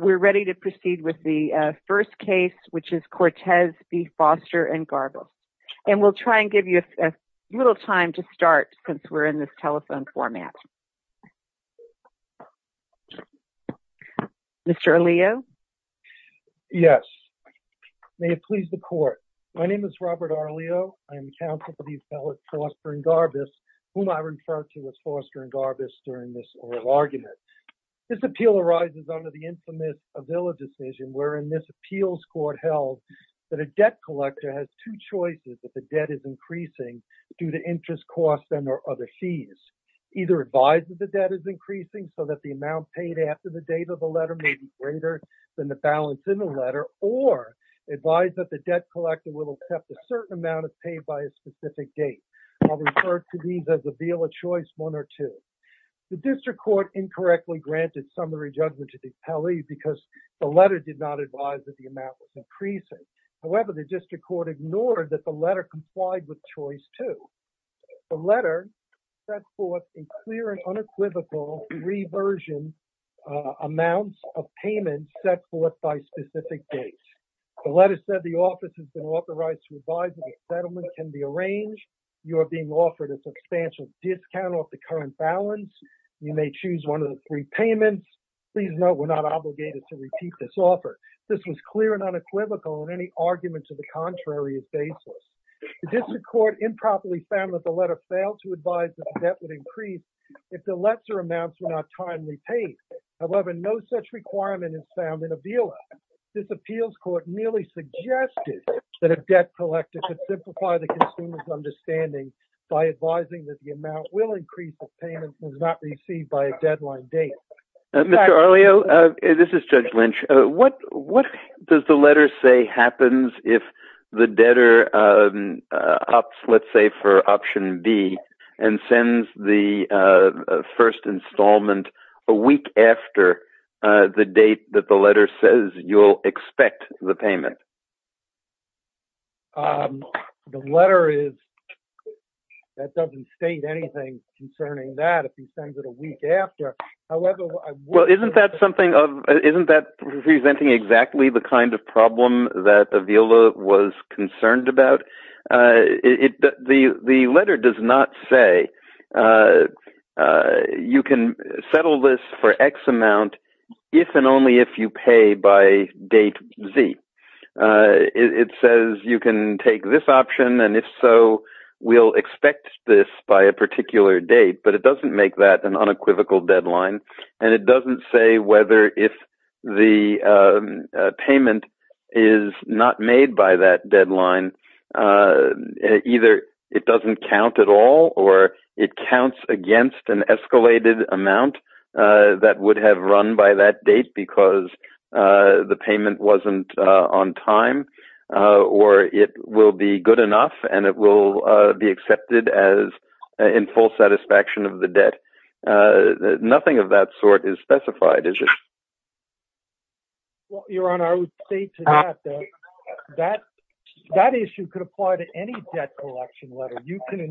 We're ready to proceed with the first case, which is Cortez v. Forster & Garbus. And we'll try and give you a little time to start since we're in this telephone format. Mr. Arleo? Yes. May it please the Court. My name is Robert Arleo. I am counsel for these fellows, Forster & Garbus, whom I referred to as Forster & Garbus during this oral argument. This appeal arises under the infamous Avila decision, wherein this appeals court held that a debt collector has two choices if the debt is increasing due to interest costs and or other fees. Either advise that the debt is increasing so that the amount paid after the date of the letter may be greater than the balance in the letter, or advise that the debt collector will accept a certain amount if paid by a specific date. I'll refer to these as Avila choice one or two. The district court incorrectly granted summary judgment to the appellee because the letter did not advise that the amount was increasing. However, the district court ignored that the letter complied with choice two. The letter set forth a clear and unequivocal reversion amounts of payment set forth by specific dates. The letter said the office has been authorized to advise that a settlement can be arranged. You are being offered a substantial discount off the current balance. You may choose one of the three payments. Please note we're not obligated to repeat this offer. This was clear and unequivocal in any argument to the contrary of basis. The district court improperly found that the letter failed to advise that the debt would increase if the lesser amounts were not timely paid. However, no such requirement is found in Avila. This appeals court merely suggested that a debt collector could simplify the consumer's understanding by advising that the amount will increase if payment was not received by a deadline date. Mr. Arleo, this is Judge Lynch. What does the letter say happens if the debtor opts, let's say, for option B and sends the first installment a week after the date that the letter says you'll expect the payment? The letter doesn't state anything concerning that if he sends it a week after. Isn't that presenting exactly the kind of problem that Avila was concerned about? The letter does not say you can settle this for X amount if and only if you pay by date Z. It says you can take this option, and if so, we'll expect this by a particular date, but it doesn't make that an unequivocal deadline. It doesn't say whether if the payment is not made by that deadline, either it doesn't count at all or it counts against an escalated amount that would have run by that date because the payment wasn't on time or it will be good enough and it will be accepted in full satisfaction of the debt. Nothing of that sort is specified, is it? Your Honor, I would say to that that issue could apply to any debt collection letter. You can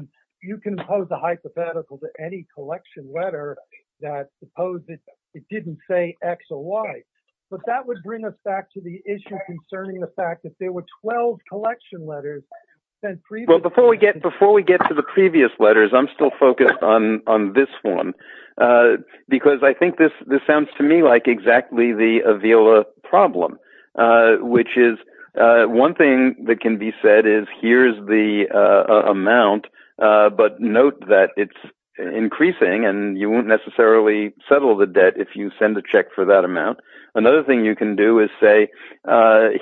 impose a hypothetical to any collection letter that supposes it didn't say X or Y, but that would bring us back to the issue concerning the fact that there were 12 collection letters sent previously. Before we get to the previous letters, I'm still focused on this one because I think this sounds to me like exactly the Avila problem, which is one thing that can be said is here's the amount, but note that it's increasing and you won't necessarily settle the debt if you send a check for that amount. Another thing you can do is say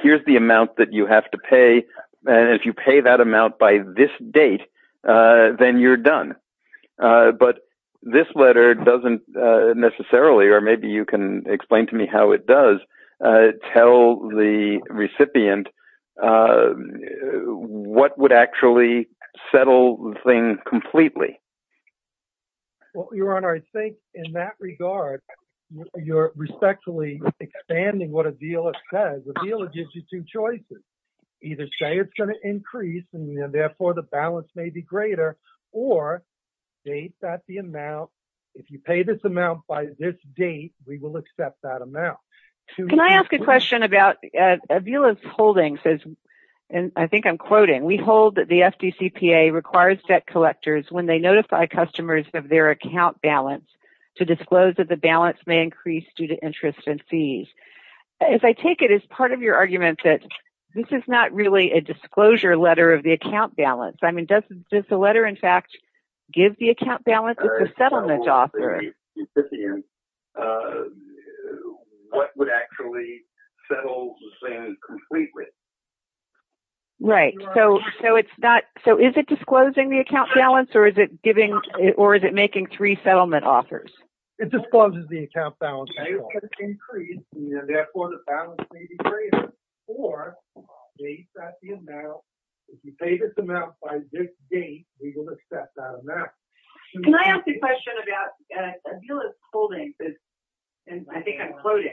here's the amount that you have to pay, and if you pay that amount by this date, then you're done. But this letter doesn't necessarily, or maybe you can explain to me how it does, tell the recipient what would actually settle the thing completely. Your Honor, I think in that regard, you're respectfully expanding what Avila says. Avila gives you two choices. Either say it's going to increase and therefore the balance may be greater, or date that the amount. If you pay this amount by this date, we will accept that amount. Can I ask a question about Avila's holding? I think I'm quoting. We hold that the FDCPA requires debt collectors, when they notify customers of their account balance, to disclose that the balance may increase due to interest and fees. If I take it as part of your argument that this is not really a disclosure letter of the account balance. I mean, does the letter, in fact, give the account balance as a settlement offer? I actually don't have an equivalent at this point, Mrs. Stewart. We have a bounce, Mr. Policeman. Can I ask a question about Avila's holding? I think I'm quoting.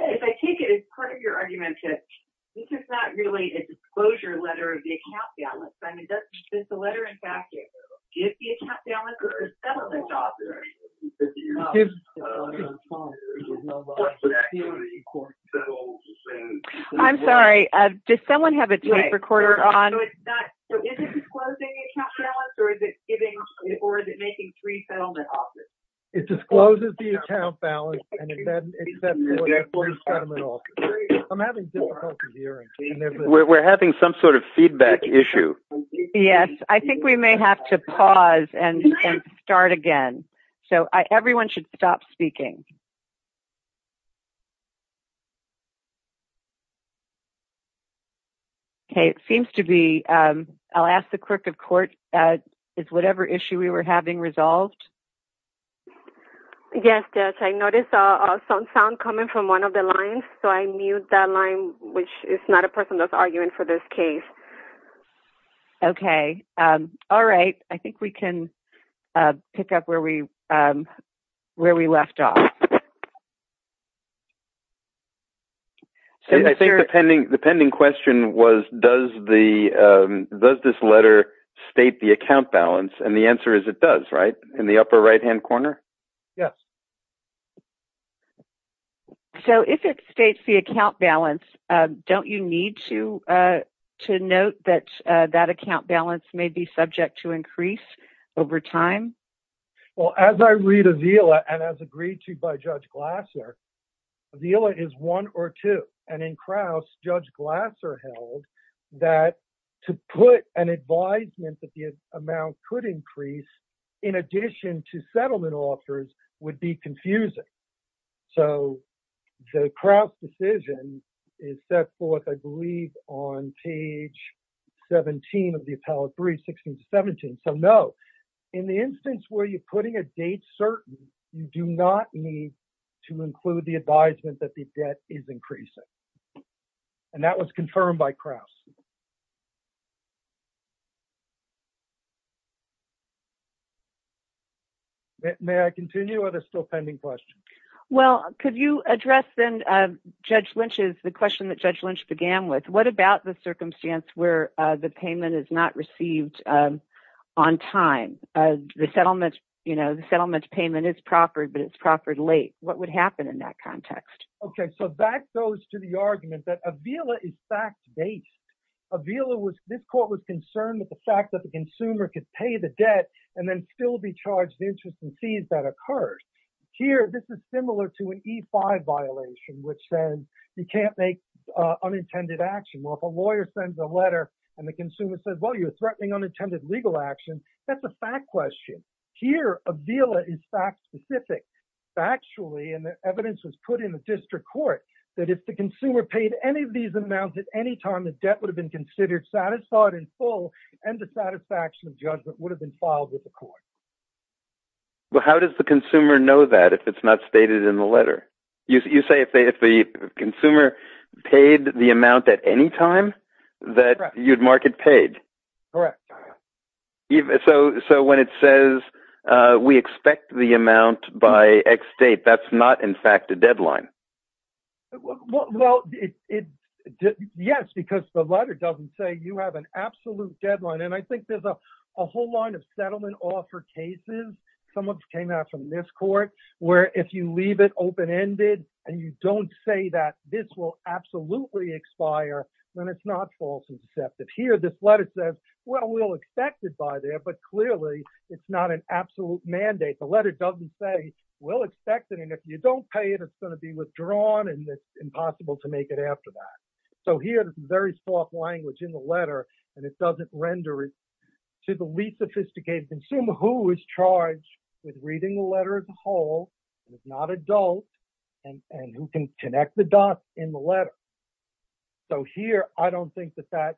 If I take it, it's part of your argument that this is not really a disclosure letter of the account balance. I mean, does the letter, in fact, give the account balance or is that on the job? I'm sorry, does someone have a tape recorder on? We're having some sort of feedback issue. Yes, I think we may have to pause and start again. So everyone should stop speaking. Okay, it seems to be, I'll ask the clerk of court, is whatever issue we were having resolved? Yes, Judge, I noticed some sound coming from one of the lines, so I mute that line, which is not a person that's arguing for this case. Okay, all right, I think we can pick up where we left off. I think the pending question was, does this letter state the account balance? And the answer is it does, right, in the upper right-hand corner? Yes. So if it states the account balance, don't you need to note that that account balance may be subject to increase over time? Well, as I read Avila and as agreed to by Judge Glasser, Avila is one or two. And in Kraus, Judge Glasser held that to put an advisement that the amount could increase in addition to settlement offers would be confusing. So the Kraus decision is set forth, I believe, on page 17 of the appellate brief, 16 to 17. So, no, in the instance where you're putting a date certain, you do not need to include the advisement that the debt is increasing. And that was confirmed by Kraus. May I continue with a still pending question? Well, could you address then, Judge Lynch's, the question that Judge Lynch began with, what about the circumstance where the payment is not received on time? The settlement, you know, the settlement payment is proffered, but it's proffered late. What would happen in that context? Okay, so that goes to the argument that Avila is fact-based. Avila was, this court was concerned with the fact that the consumer could pay the debt and then still be charged the interest and fees that occurred. Here, this is similar to an E-5 violation, which then you can't make unintended action. Well, if a lawyer sends a letter and the consumer says, well, you're threatening unintended legal action, that's a fact question. Here, Avila is fact-specific. Factually, and the evidence was put in the district court, that if the consumer paid any of these amounts at any time, the debt would have been considered satisfied in full and the satisfaction of judgment would have been filed with the court. Well, how does the consumer know that if it's not stated in the letter? You say if the consumer paid the amount at any time that you'd mark it paid? Correct. So when it says we expect the amount by X date, that's not, in fact, a deadline. Well, yes, because the letter doesn't say you have an absolute deadline. And I think there's a whole line of settlement offer cases, some of which came out from this court, where if you leave it open-ended and you don't say that this will absolutely expire, then it's not false and deceptive. Here, this letter says, well, we'll expect it by there. But clearly, it's not an absolute mandate. The letter doesn't say we'll expect it. And if you don't pay it, it's going to be withdrawn and it's impossible to make it after that. So here, this is very soft language in the letter, and it doesn't render it to the least sophisticated consumer, who is charged with reading the letter as a whole and is not adult and who can connect the dots in the letter. So here, I don't think that that's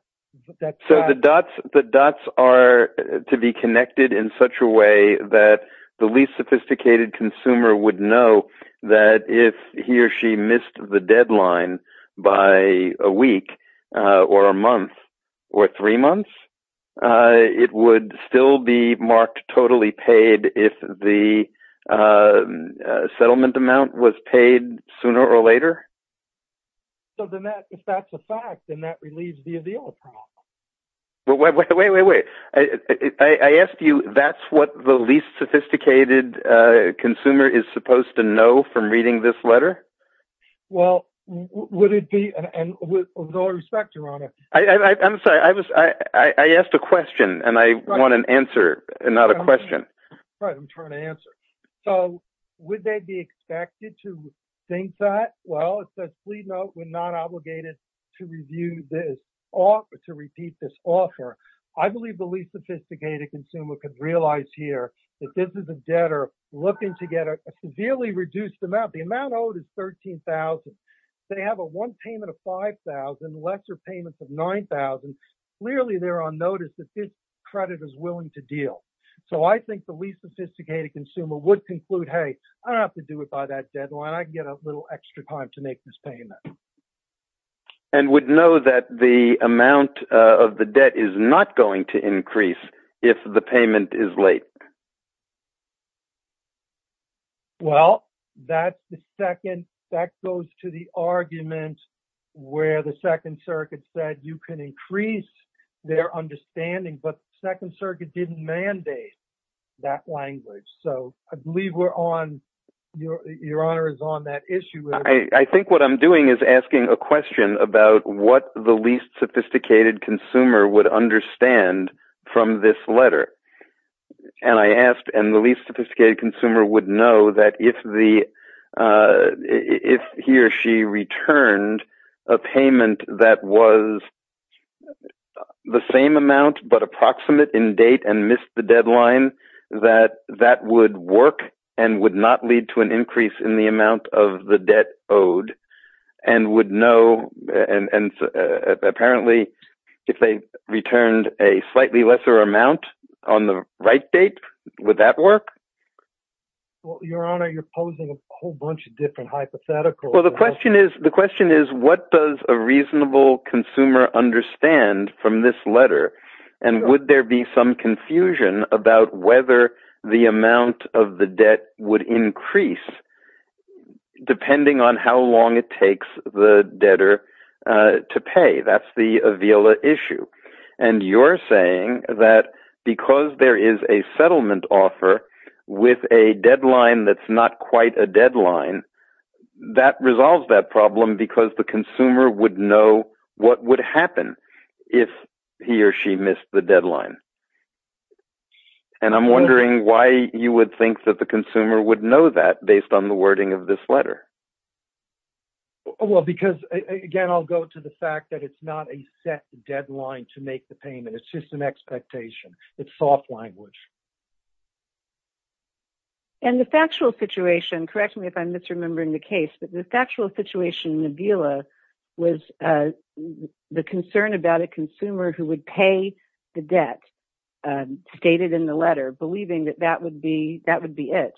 right. So the dots are to be connected in such a way that the least sophisticated consumer would know that if he or she missed the deadline by a week or a month or three months, it would still be marked totally paid if the settlement amount was paid sooner or later? So if that's a fact, then that relieves the appeal problem. Wait, wait, wait, wait. I asked you, that's what the least sophisticated consumer is supposed to know from reading this letter? Well, would it be – and with all respect, Your Honor. I'm sorry. I asked a question, and I want an answer, not a question. Right. I'm trying to answer. So would they be expected to think that? Well, it says, please note, we're not obligated to review this or to repeat this offer. I believe the least sophisticated consumer could realize here that this is a debtor looking to get a severely reduced amount. The amount owed is $13,000. They have a one payment of $5,000, lesser payments of $9,000. Clearly, they're on notice that this credit is willing to deal. So I think the least sophisticated consumer would conclude, hey, I don't have to do it by that deadline. I can get a little extra time to make this payment. And would know that the amount of the debt is not going to increase if the payment is late. Well, that's the second – that goes to the argument where the Second Circuit said you can increase their understanding. But the Second Circuit didn't mandate that language. So I believe we're on – your Honor is on that issue. I think what I'm doing is asking a question about what the least sophisticated consumer would understand from this letter. And I asked, and the least sophisticated consumer would know that if the – if he or she returned a payment that was the same amount, but approximate in date and missed the deadline, that that would work and would not lead to an increase in the amount of the debt owed. And would know – and apparently, if they returned a slightly lesser amount on the right date, would that work? Well, your Honor, you're posing a whole bunch of different hypotheticals. Well, the question is, what does a reasonable consumer understand from this letter? And would there be some confusion about whether the amount of the debt would increase depending on how long it takes the debtor to pay? That's the Avila issue. And you're saying that because there is a settlement offer with a deadline that's not quite a deadline, that resolves that problem because the consumer would know what would happen if he or she missed the deadline. And I'm wondering why you would think that the consumer would know that based on the wording of this letter. Well, because, again, I'll go to the fact that it's not a set deadline to make the payment. It's just an expectation. It's soft language. And the factual situation – correct me if I'm misremembering the case – but the factual situation in Avila was the concern about a consumer who would pay the debt, stated in the letter, believing that that would be it.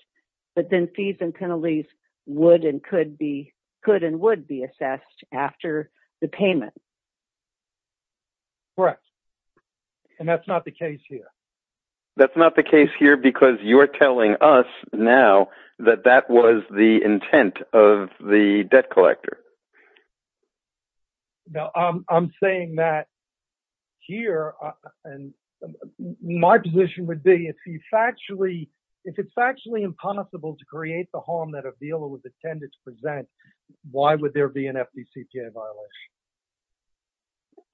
But then fees and penalties would and could be – could and would be assessed after the payment. Correct. And that's not the case here. That's not the case here because you're telling us now that that was the intent of the debt collector. No, I'm saying that here – and my position would be if you factually – if it's factually impossible to create the harm that Avila would intend to present, why would there be an FDCPA violation?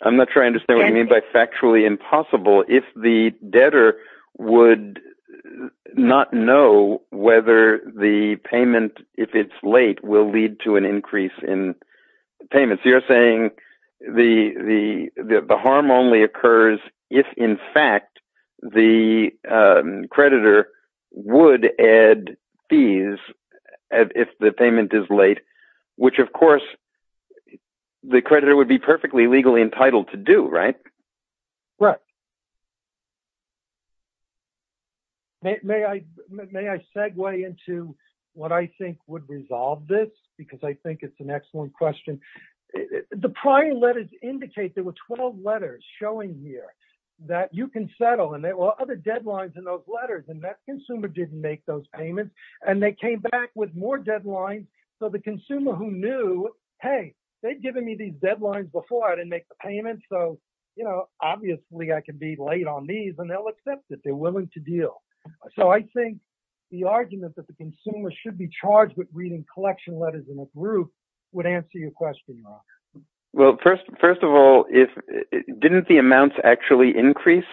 I'm not sure I understand what you mean by factually impossible. If the debtor would not know whether the payment, if it's late, will lead to an increase in payments. So you're saying the harm only occurs if, in fact, the creditor would add fees if the payment is late, which, of course, the creditor would be perfectly legally entitled to do, right? Correct. May I segue into what I think would resolve this? Because I think it's an excellent question. The prior letters indicate – there were 12 letters showing here that you can settle, and there were other deadlines in those letters, and that consumer didn't make those payments. And they came back with more deadlines. So the consumer who knew, hey, they've given me these deadlines before, I didn't make the payments, so, you know, obviously I can be late on these, and they'll accept it. They're willing to deal. So I think the argument that the consumer should be charged with reading collection letters in a group would answer your question, Mark. Well, first of all, didn't the amounts actually increase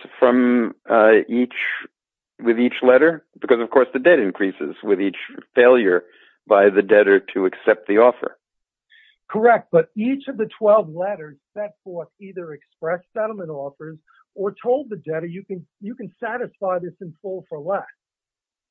with each letter? Because, of course, the debt increases with each failure by the debtor to accept the offer. Correct. But each of the 12 letters set forth either expressed settlement offers or told the debtor you can satisfy this in full for less.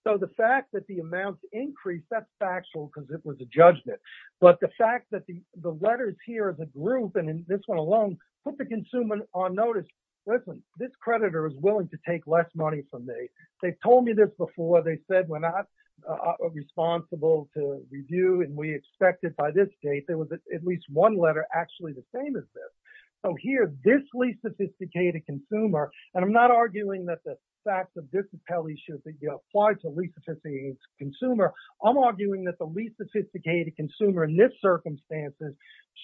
So the fact that the amounts increased, that's factual because it was a judgment. But the fact that the letters here, the group, and this one alone, put the consumer on notice, listen, this creditor is willing to take less money from me. They've told me this before. They said we're not responsible to review, and we expect it by this date. There was at least one letter actually the same as this. So here, this least sophisticated consumer, and I'm not arguing that the facts of this appellee should be applied to least sophisticated consumer. I'm arguing that the least sophisticated consumer in this circumstances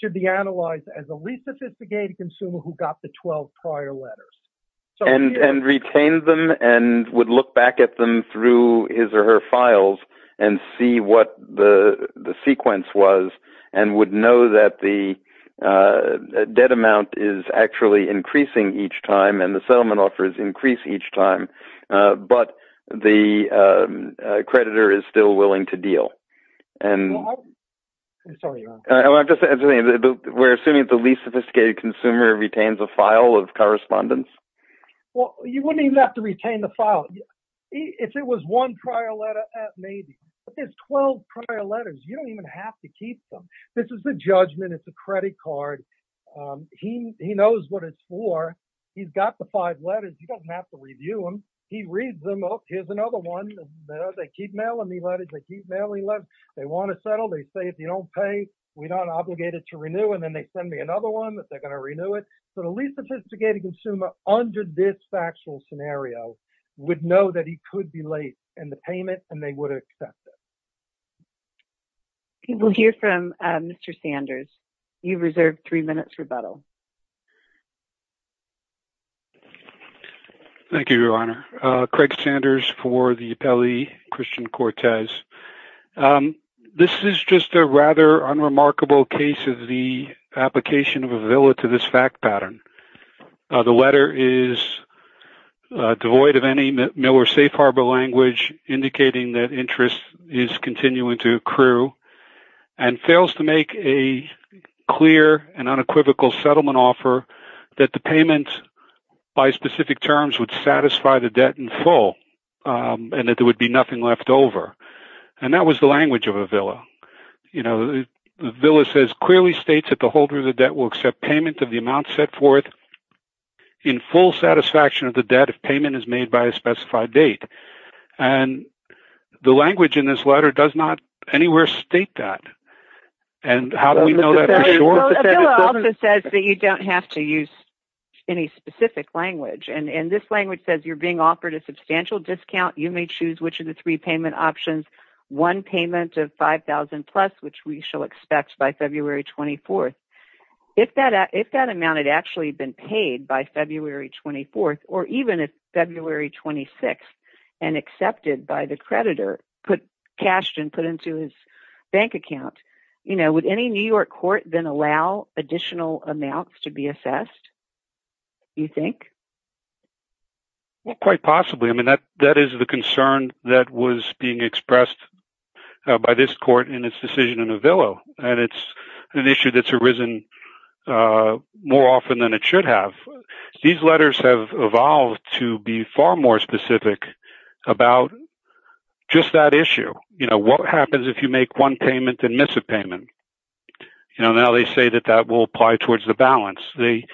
should be analyzed as a least sophisticated consumer who got the 12 prior letters. And retained them and would look back at them through his or her files and see what the sequence was and would know that the debt amount is actually increasing each time and the settlement offers increase each time, but the creditor is still willing to deal. We're assuming that the least sophisticated consumer retains a file of correspondence. Well, you wouldn't even have to retain the file. If it was one prior letter, maybe. But there's 12 prior letters. You don't even have to keep them. This is a judgment. It's a credit card. He knows what it's for. He's got the five letters. You don't have to review them. He reads them. Oh, here's another one. They keep mailing me letters. They keep mailing letters. They want to settle. They say if you don't pay, we're not obligated to renew, and then they send me another one that they're going to renew it. So the least sophisticated consumer under this factual scenario would know that he could be late in the payment, and they would accept it. We'll hear from Mr. Sanders. You've reserved three minutes rebuttal. Thank you, Your Honor. Thank you, Your Honor. Craig Sanders for the appellee, Christian Cortez. This is just a rather unremarkable case of the application of a villa to this fact pattern. The letter is devoid of any Miller Safe Harbor language indicating that interest is continuing to accrue and fails to make a clear and unequivocal settlement offer that the payment by specific terms would satisfy the debt in full and that there would be nothing left over, and that was the language of a villa. The villa clearly states that the holder of the debt will accept payment of the amount set forth in full satisfaction of the debt if payment is made by a specified date, and the language in this letter does not anywhere state that. How do we know that for sure? A villa also says that you don't have to use any specific language, and this language says you're being offered a substantial discount. You may choose which of the three payment options, one payment of $5,000 plus, which we shall expect by February 24th. If that amount had actually been paid by February 24th or even February 26th and accepted by the creditor, cashed and put into his bank account, would any New York court then allow additional amounts to be assessed, you think? Quite possibly. That is the concern that was being expressed by this court in its decision in a villa, and it's an issue that's arisen more often than it should have. These letters have evolved to be far more specific about just that issue. What happens if you make one payment and miss a payment? Now they say that that will apply towards the balance. They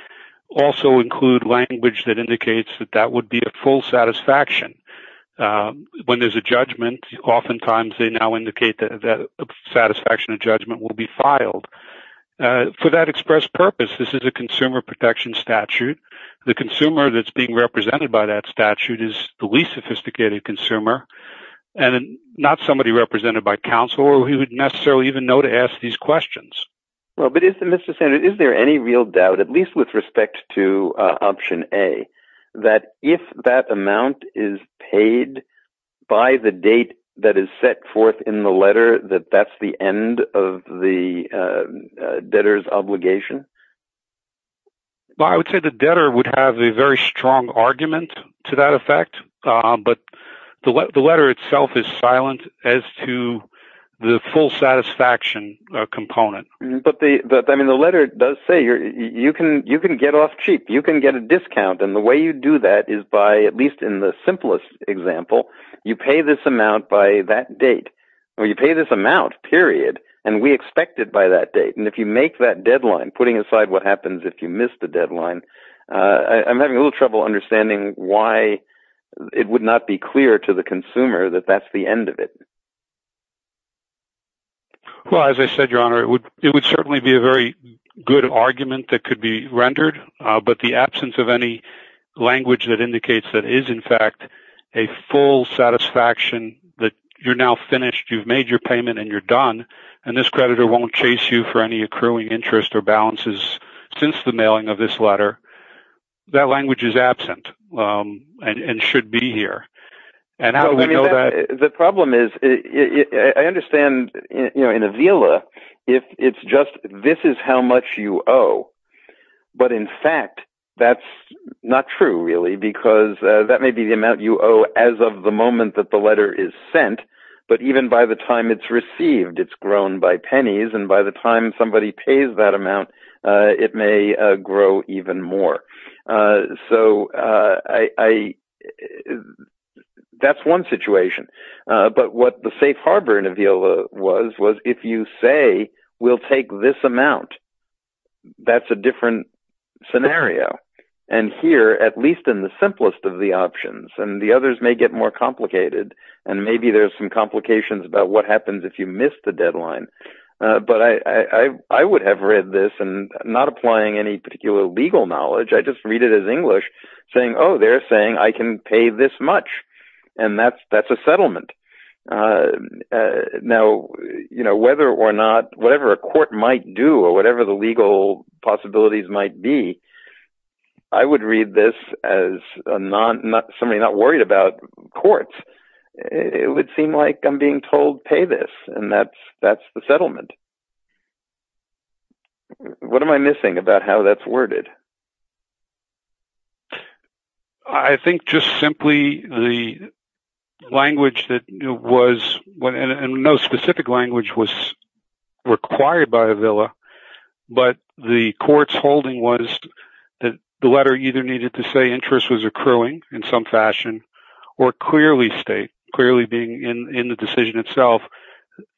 also include language that indicates that that would be a full satisfaction. When there's a judgment, oftentimes they now indicate that a satisfaction of judgment will be filed. For that express purpose, this is a consumer protection statute. The consumer that's being represented by that statute is the least sophisticated consumer, and not somebody represented by counsel who would necessarily even know to ask these questions. Well, but is there any real doubt, at least with respect to option A, that if that amount is paid by the date that is set forth in the letter, that that's the end of the debtor's obligation? I would say the debtor would have a very strong argument to that effect, but the letter itself is silent as to the full satisfaction component. But the letter does say you can get off cheap. You can get a discount, and the way you do that is by, at least in the simplest example, you pay this amount by that date, or you pay this amount, period, and we expect it by that date. If you make that deadline, putting aside what happens if you miss the deadline, I'm having a little trouble understanding why it would not be clear to the consumer that that's the end of it. Well, as I said, Your Honor, it would certainly be a very good argument that could be rendered, but the absence of any language that indicates that it is, in fact, a full satisfaction, that you're now finished, you've made your payment, and you're done, and this creditor won't chase you for any accruing interest or balances since the mailing of this letter, that language is absent and should be here. And how do we know that? The problem is I understand in Avila if it's just this is how much you owe, but in fact that's not true really because that may be the amount you owe as of the moment that the letter is sent, but even by the time it's received, it's grown by pennies, and by the time somebody pays that amount, it may grow even more. So that's one situation, but what the safe harbor in Avila was, was if you say we'll take this amount, that's a different scenario. And here, at least in the simplest of the options, and the others may get more complicated, and maybe there's some complications about what happens if you miss the deadline, but I would have read this, and not applying any particular legal knowledge, I just read it as English saying, oh, they're saying I can pay this much, and that's a settlement. Now, whether or not, whatever a court might do, or whatever the legal possibilities might be, I would read this as somebody not worried about courts. It would seem like I'm being told pay this, and that's the settlement. What am I missing about how that's worded? I think just simply the language that was, and no specific language was required by Avila, but the court's holding was that the letter either needed to say interest was accruing in some fashion, or clearly state, clearly being in the decision itself,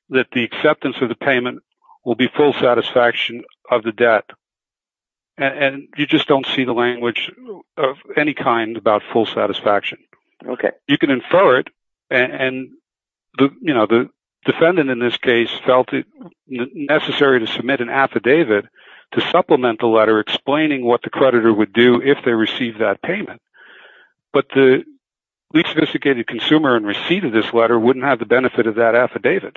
that the acceptance of the payment will be full satisfaction of the debt. You just don't see the language of any kind about full satisfaction. You can infer it, and the defendant in this case felt it necessary to submit an affidavit to supplement the letter explaining what the creditor would do if they received that payment, but the least sophisticated consumer in receipt of this letter wouldn't have the benefit of that affidavit.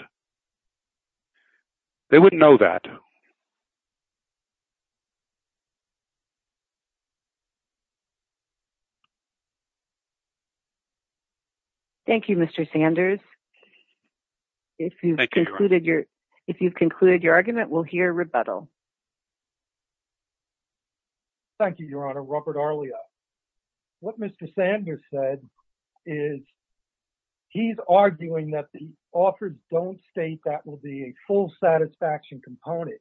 They wouldn't know that. Thank you. Thank you, Mr. Sanders. Thank you, Your Honor. If you've concluded your argument, we'll hear rebuttal. Thank you, Your Honor. Robert Arlia. What Mr. Sanders said is he's arguing that the offers don't state that will be a full satisfaction component,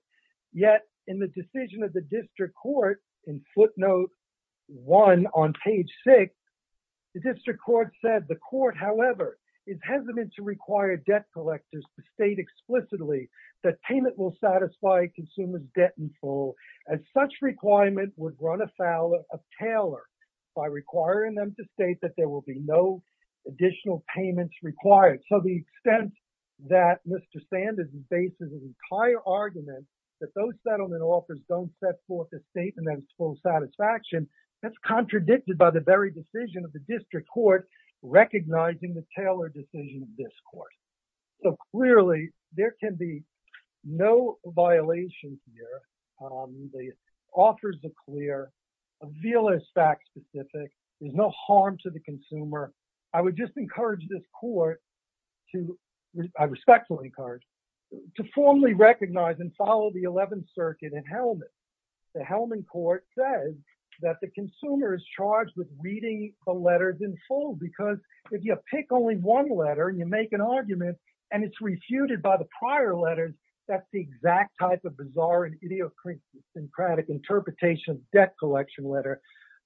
yet in the decision of the district court, in footnote 1 on page 6, the district court said the court, however, is hesitant to require debt collectors to state explicitly that payment will satisfy a consumer's debt in full, as such requirement would run afoul of Taylor by requiring them to state that there will be no additional payments required. So, the extent that Mr. Sanders bases his entire argument that those settlement offers don't set forth a statement of full satisfaction, that's contradicted by the very decision of the district court recognizing the Taylor decision of this court. So, clearly, there can be no violation here. The offers are clear. A view is fact-specific. There's no harm to the consumer. I would just encourage this court to, I respectfully encourage, to formally recognize and follow the 11th Circuit and Hellman. The Hellman court says that the consumer is charged with reading the letters in full because if you pick only one letter and you make an argument and it's refuted by the prior letters, that's the exact type of bizarre and idiosyncratic interpretation of debt collection letter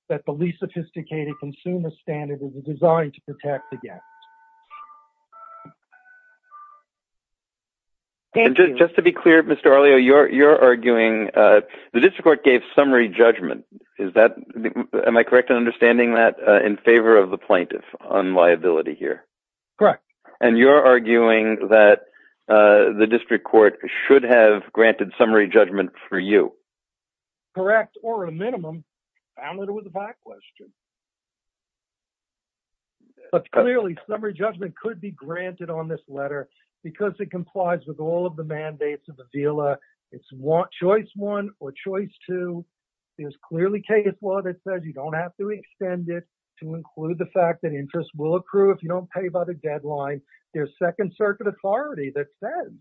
that the least sophisticated consumer standard is designed to protect against. Just to be clear, Mr. Arleo, you're arguing the district court gave summary judgment. Is that, am I correct in understanding that, in favor of the plaintiff on liability here? Correct. And you're arguing that the district court should have granted summary judgment for you. Correct, or a minimum. Found that it was a fact question. But clearly, summary judgment could be granted on this letter because it complies with all of the mandates of the VILA. It's choice one or choice two. There's clearly case law that says you don't have to extend it to include the fact that interest will accrue if you don't pay by the deadline. There's Second Circuit authority that says,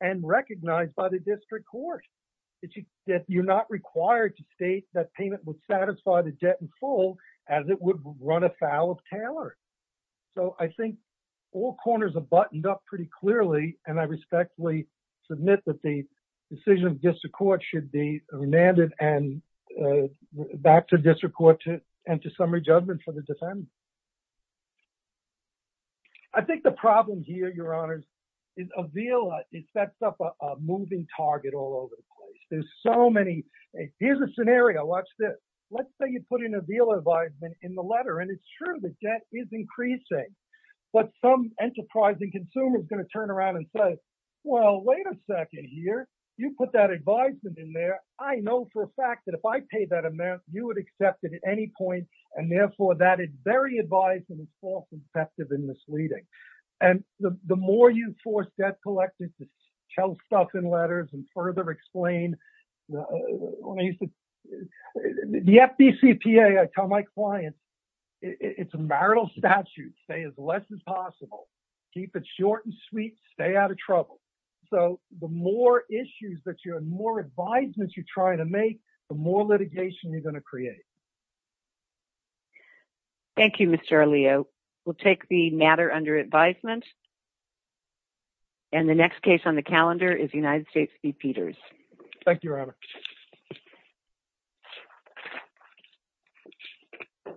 and recognized by the district court, that you're not required to state that payment would satisfy the debt in full as it would run afoul of Taylor. So I think all corners are buttoned up pretty clearly, and I respectfully submit that the decision of district court should be remanded and back to district court to enter summary judgment for the defendant. I think the problem here, Your Honors, is a VILA. It sets up a moving target all over the place. There's so many. Here's a scenario. Watch this. Let's say you put in a VILA advisement in the letter, and it's true that debt is increasing. But some enterprising consumer is going to turn around and say, well, wait a second here. You put that advisement in there. I know for a fact that if I paid that amount, you would accept it at any point, and therefore that is very advisable and false and deceptive and misleading. And the more you force debt collectors to tell stuff in letters and further explain, the FDCPA, I tell my clients, it's a marital statute. Stay as less as possible. Keep it short and sweet. Stay out of trouble. So the more issues that you're more advisements you're trying to make, the more litigation you're going to create. Thank you, Mr. Arleo. We'll take the matter under advisement. And the next case on the calendar is United States v. Peters. Thank you, Your Honor.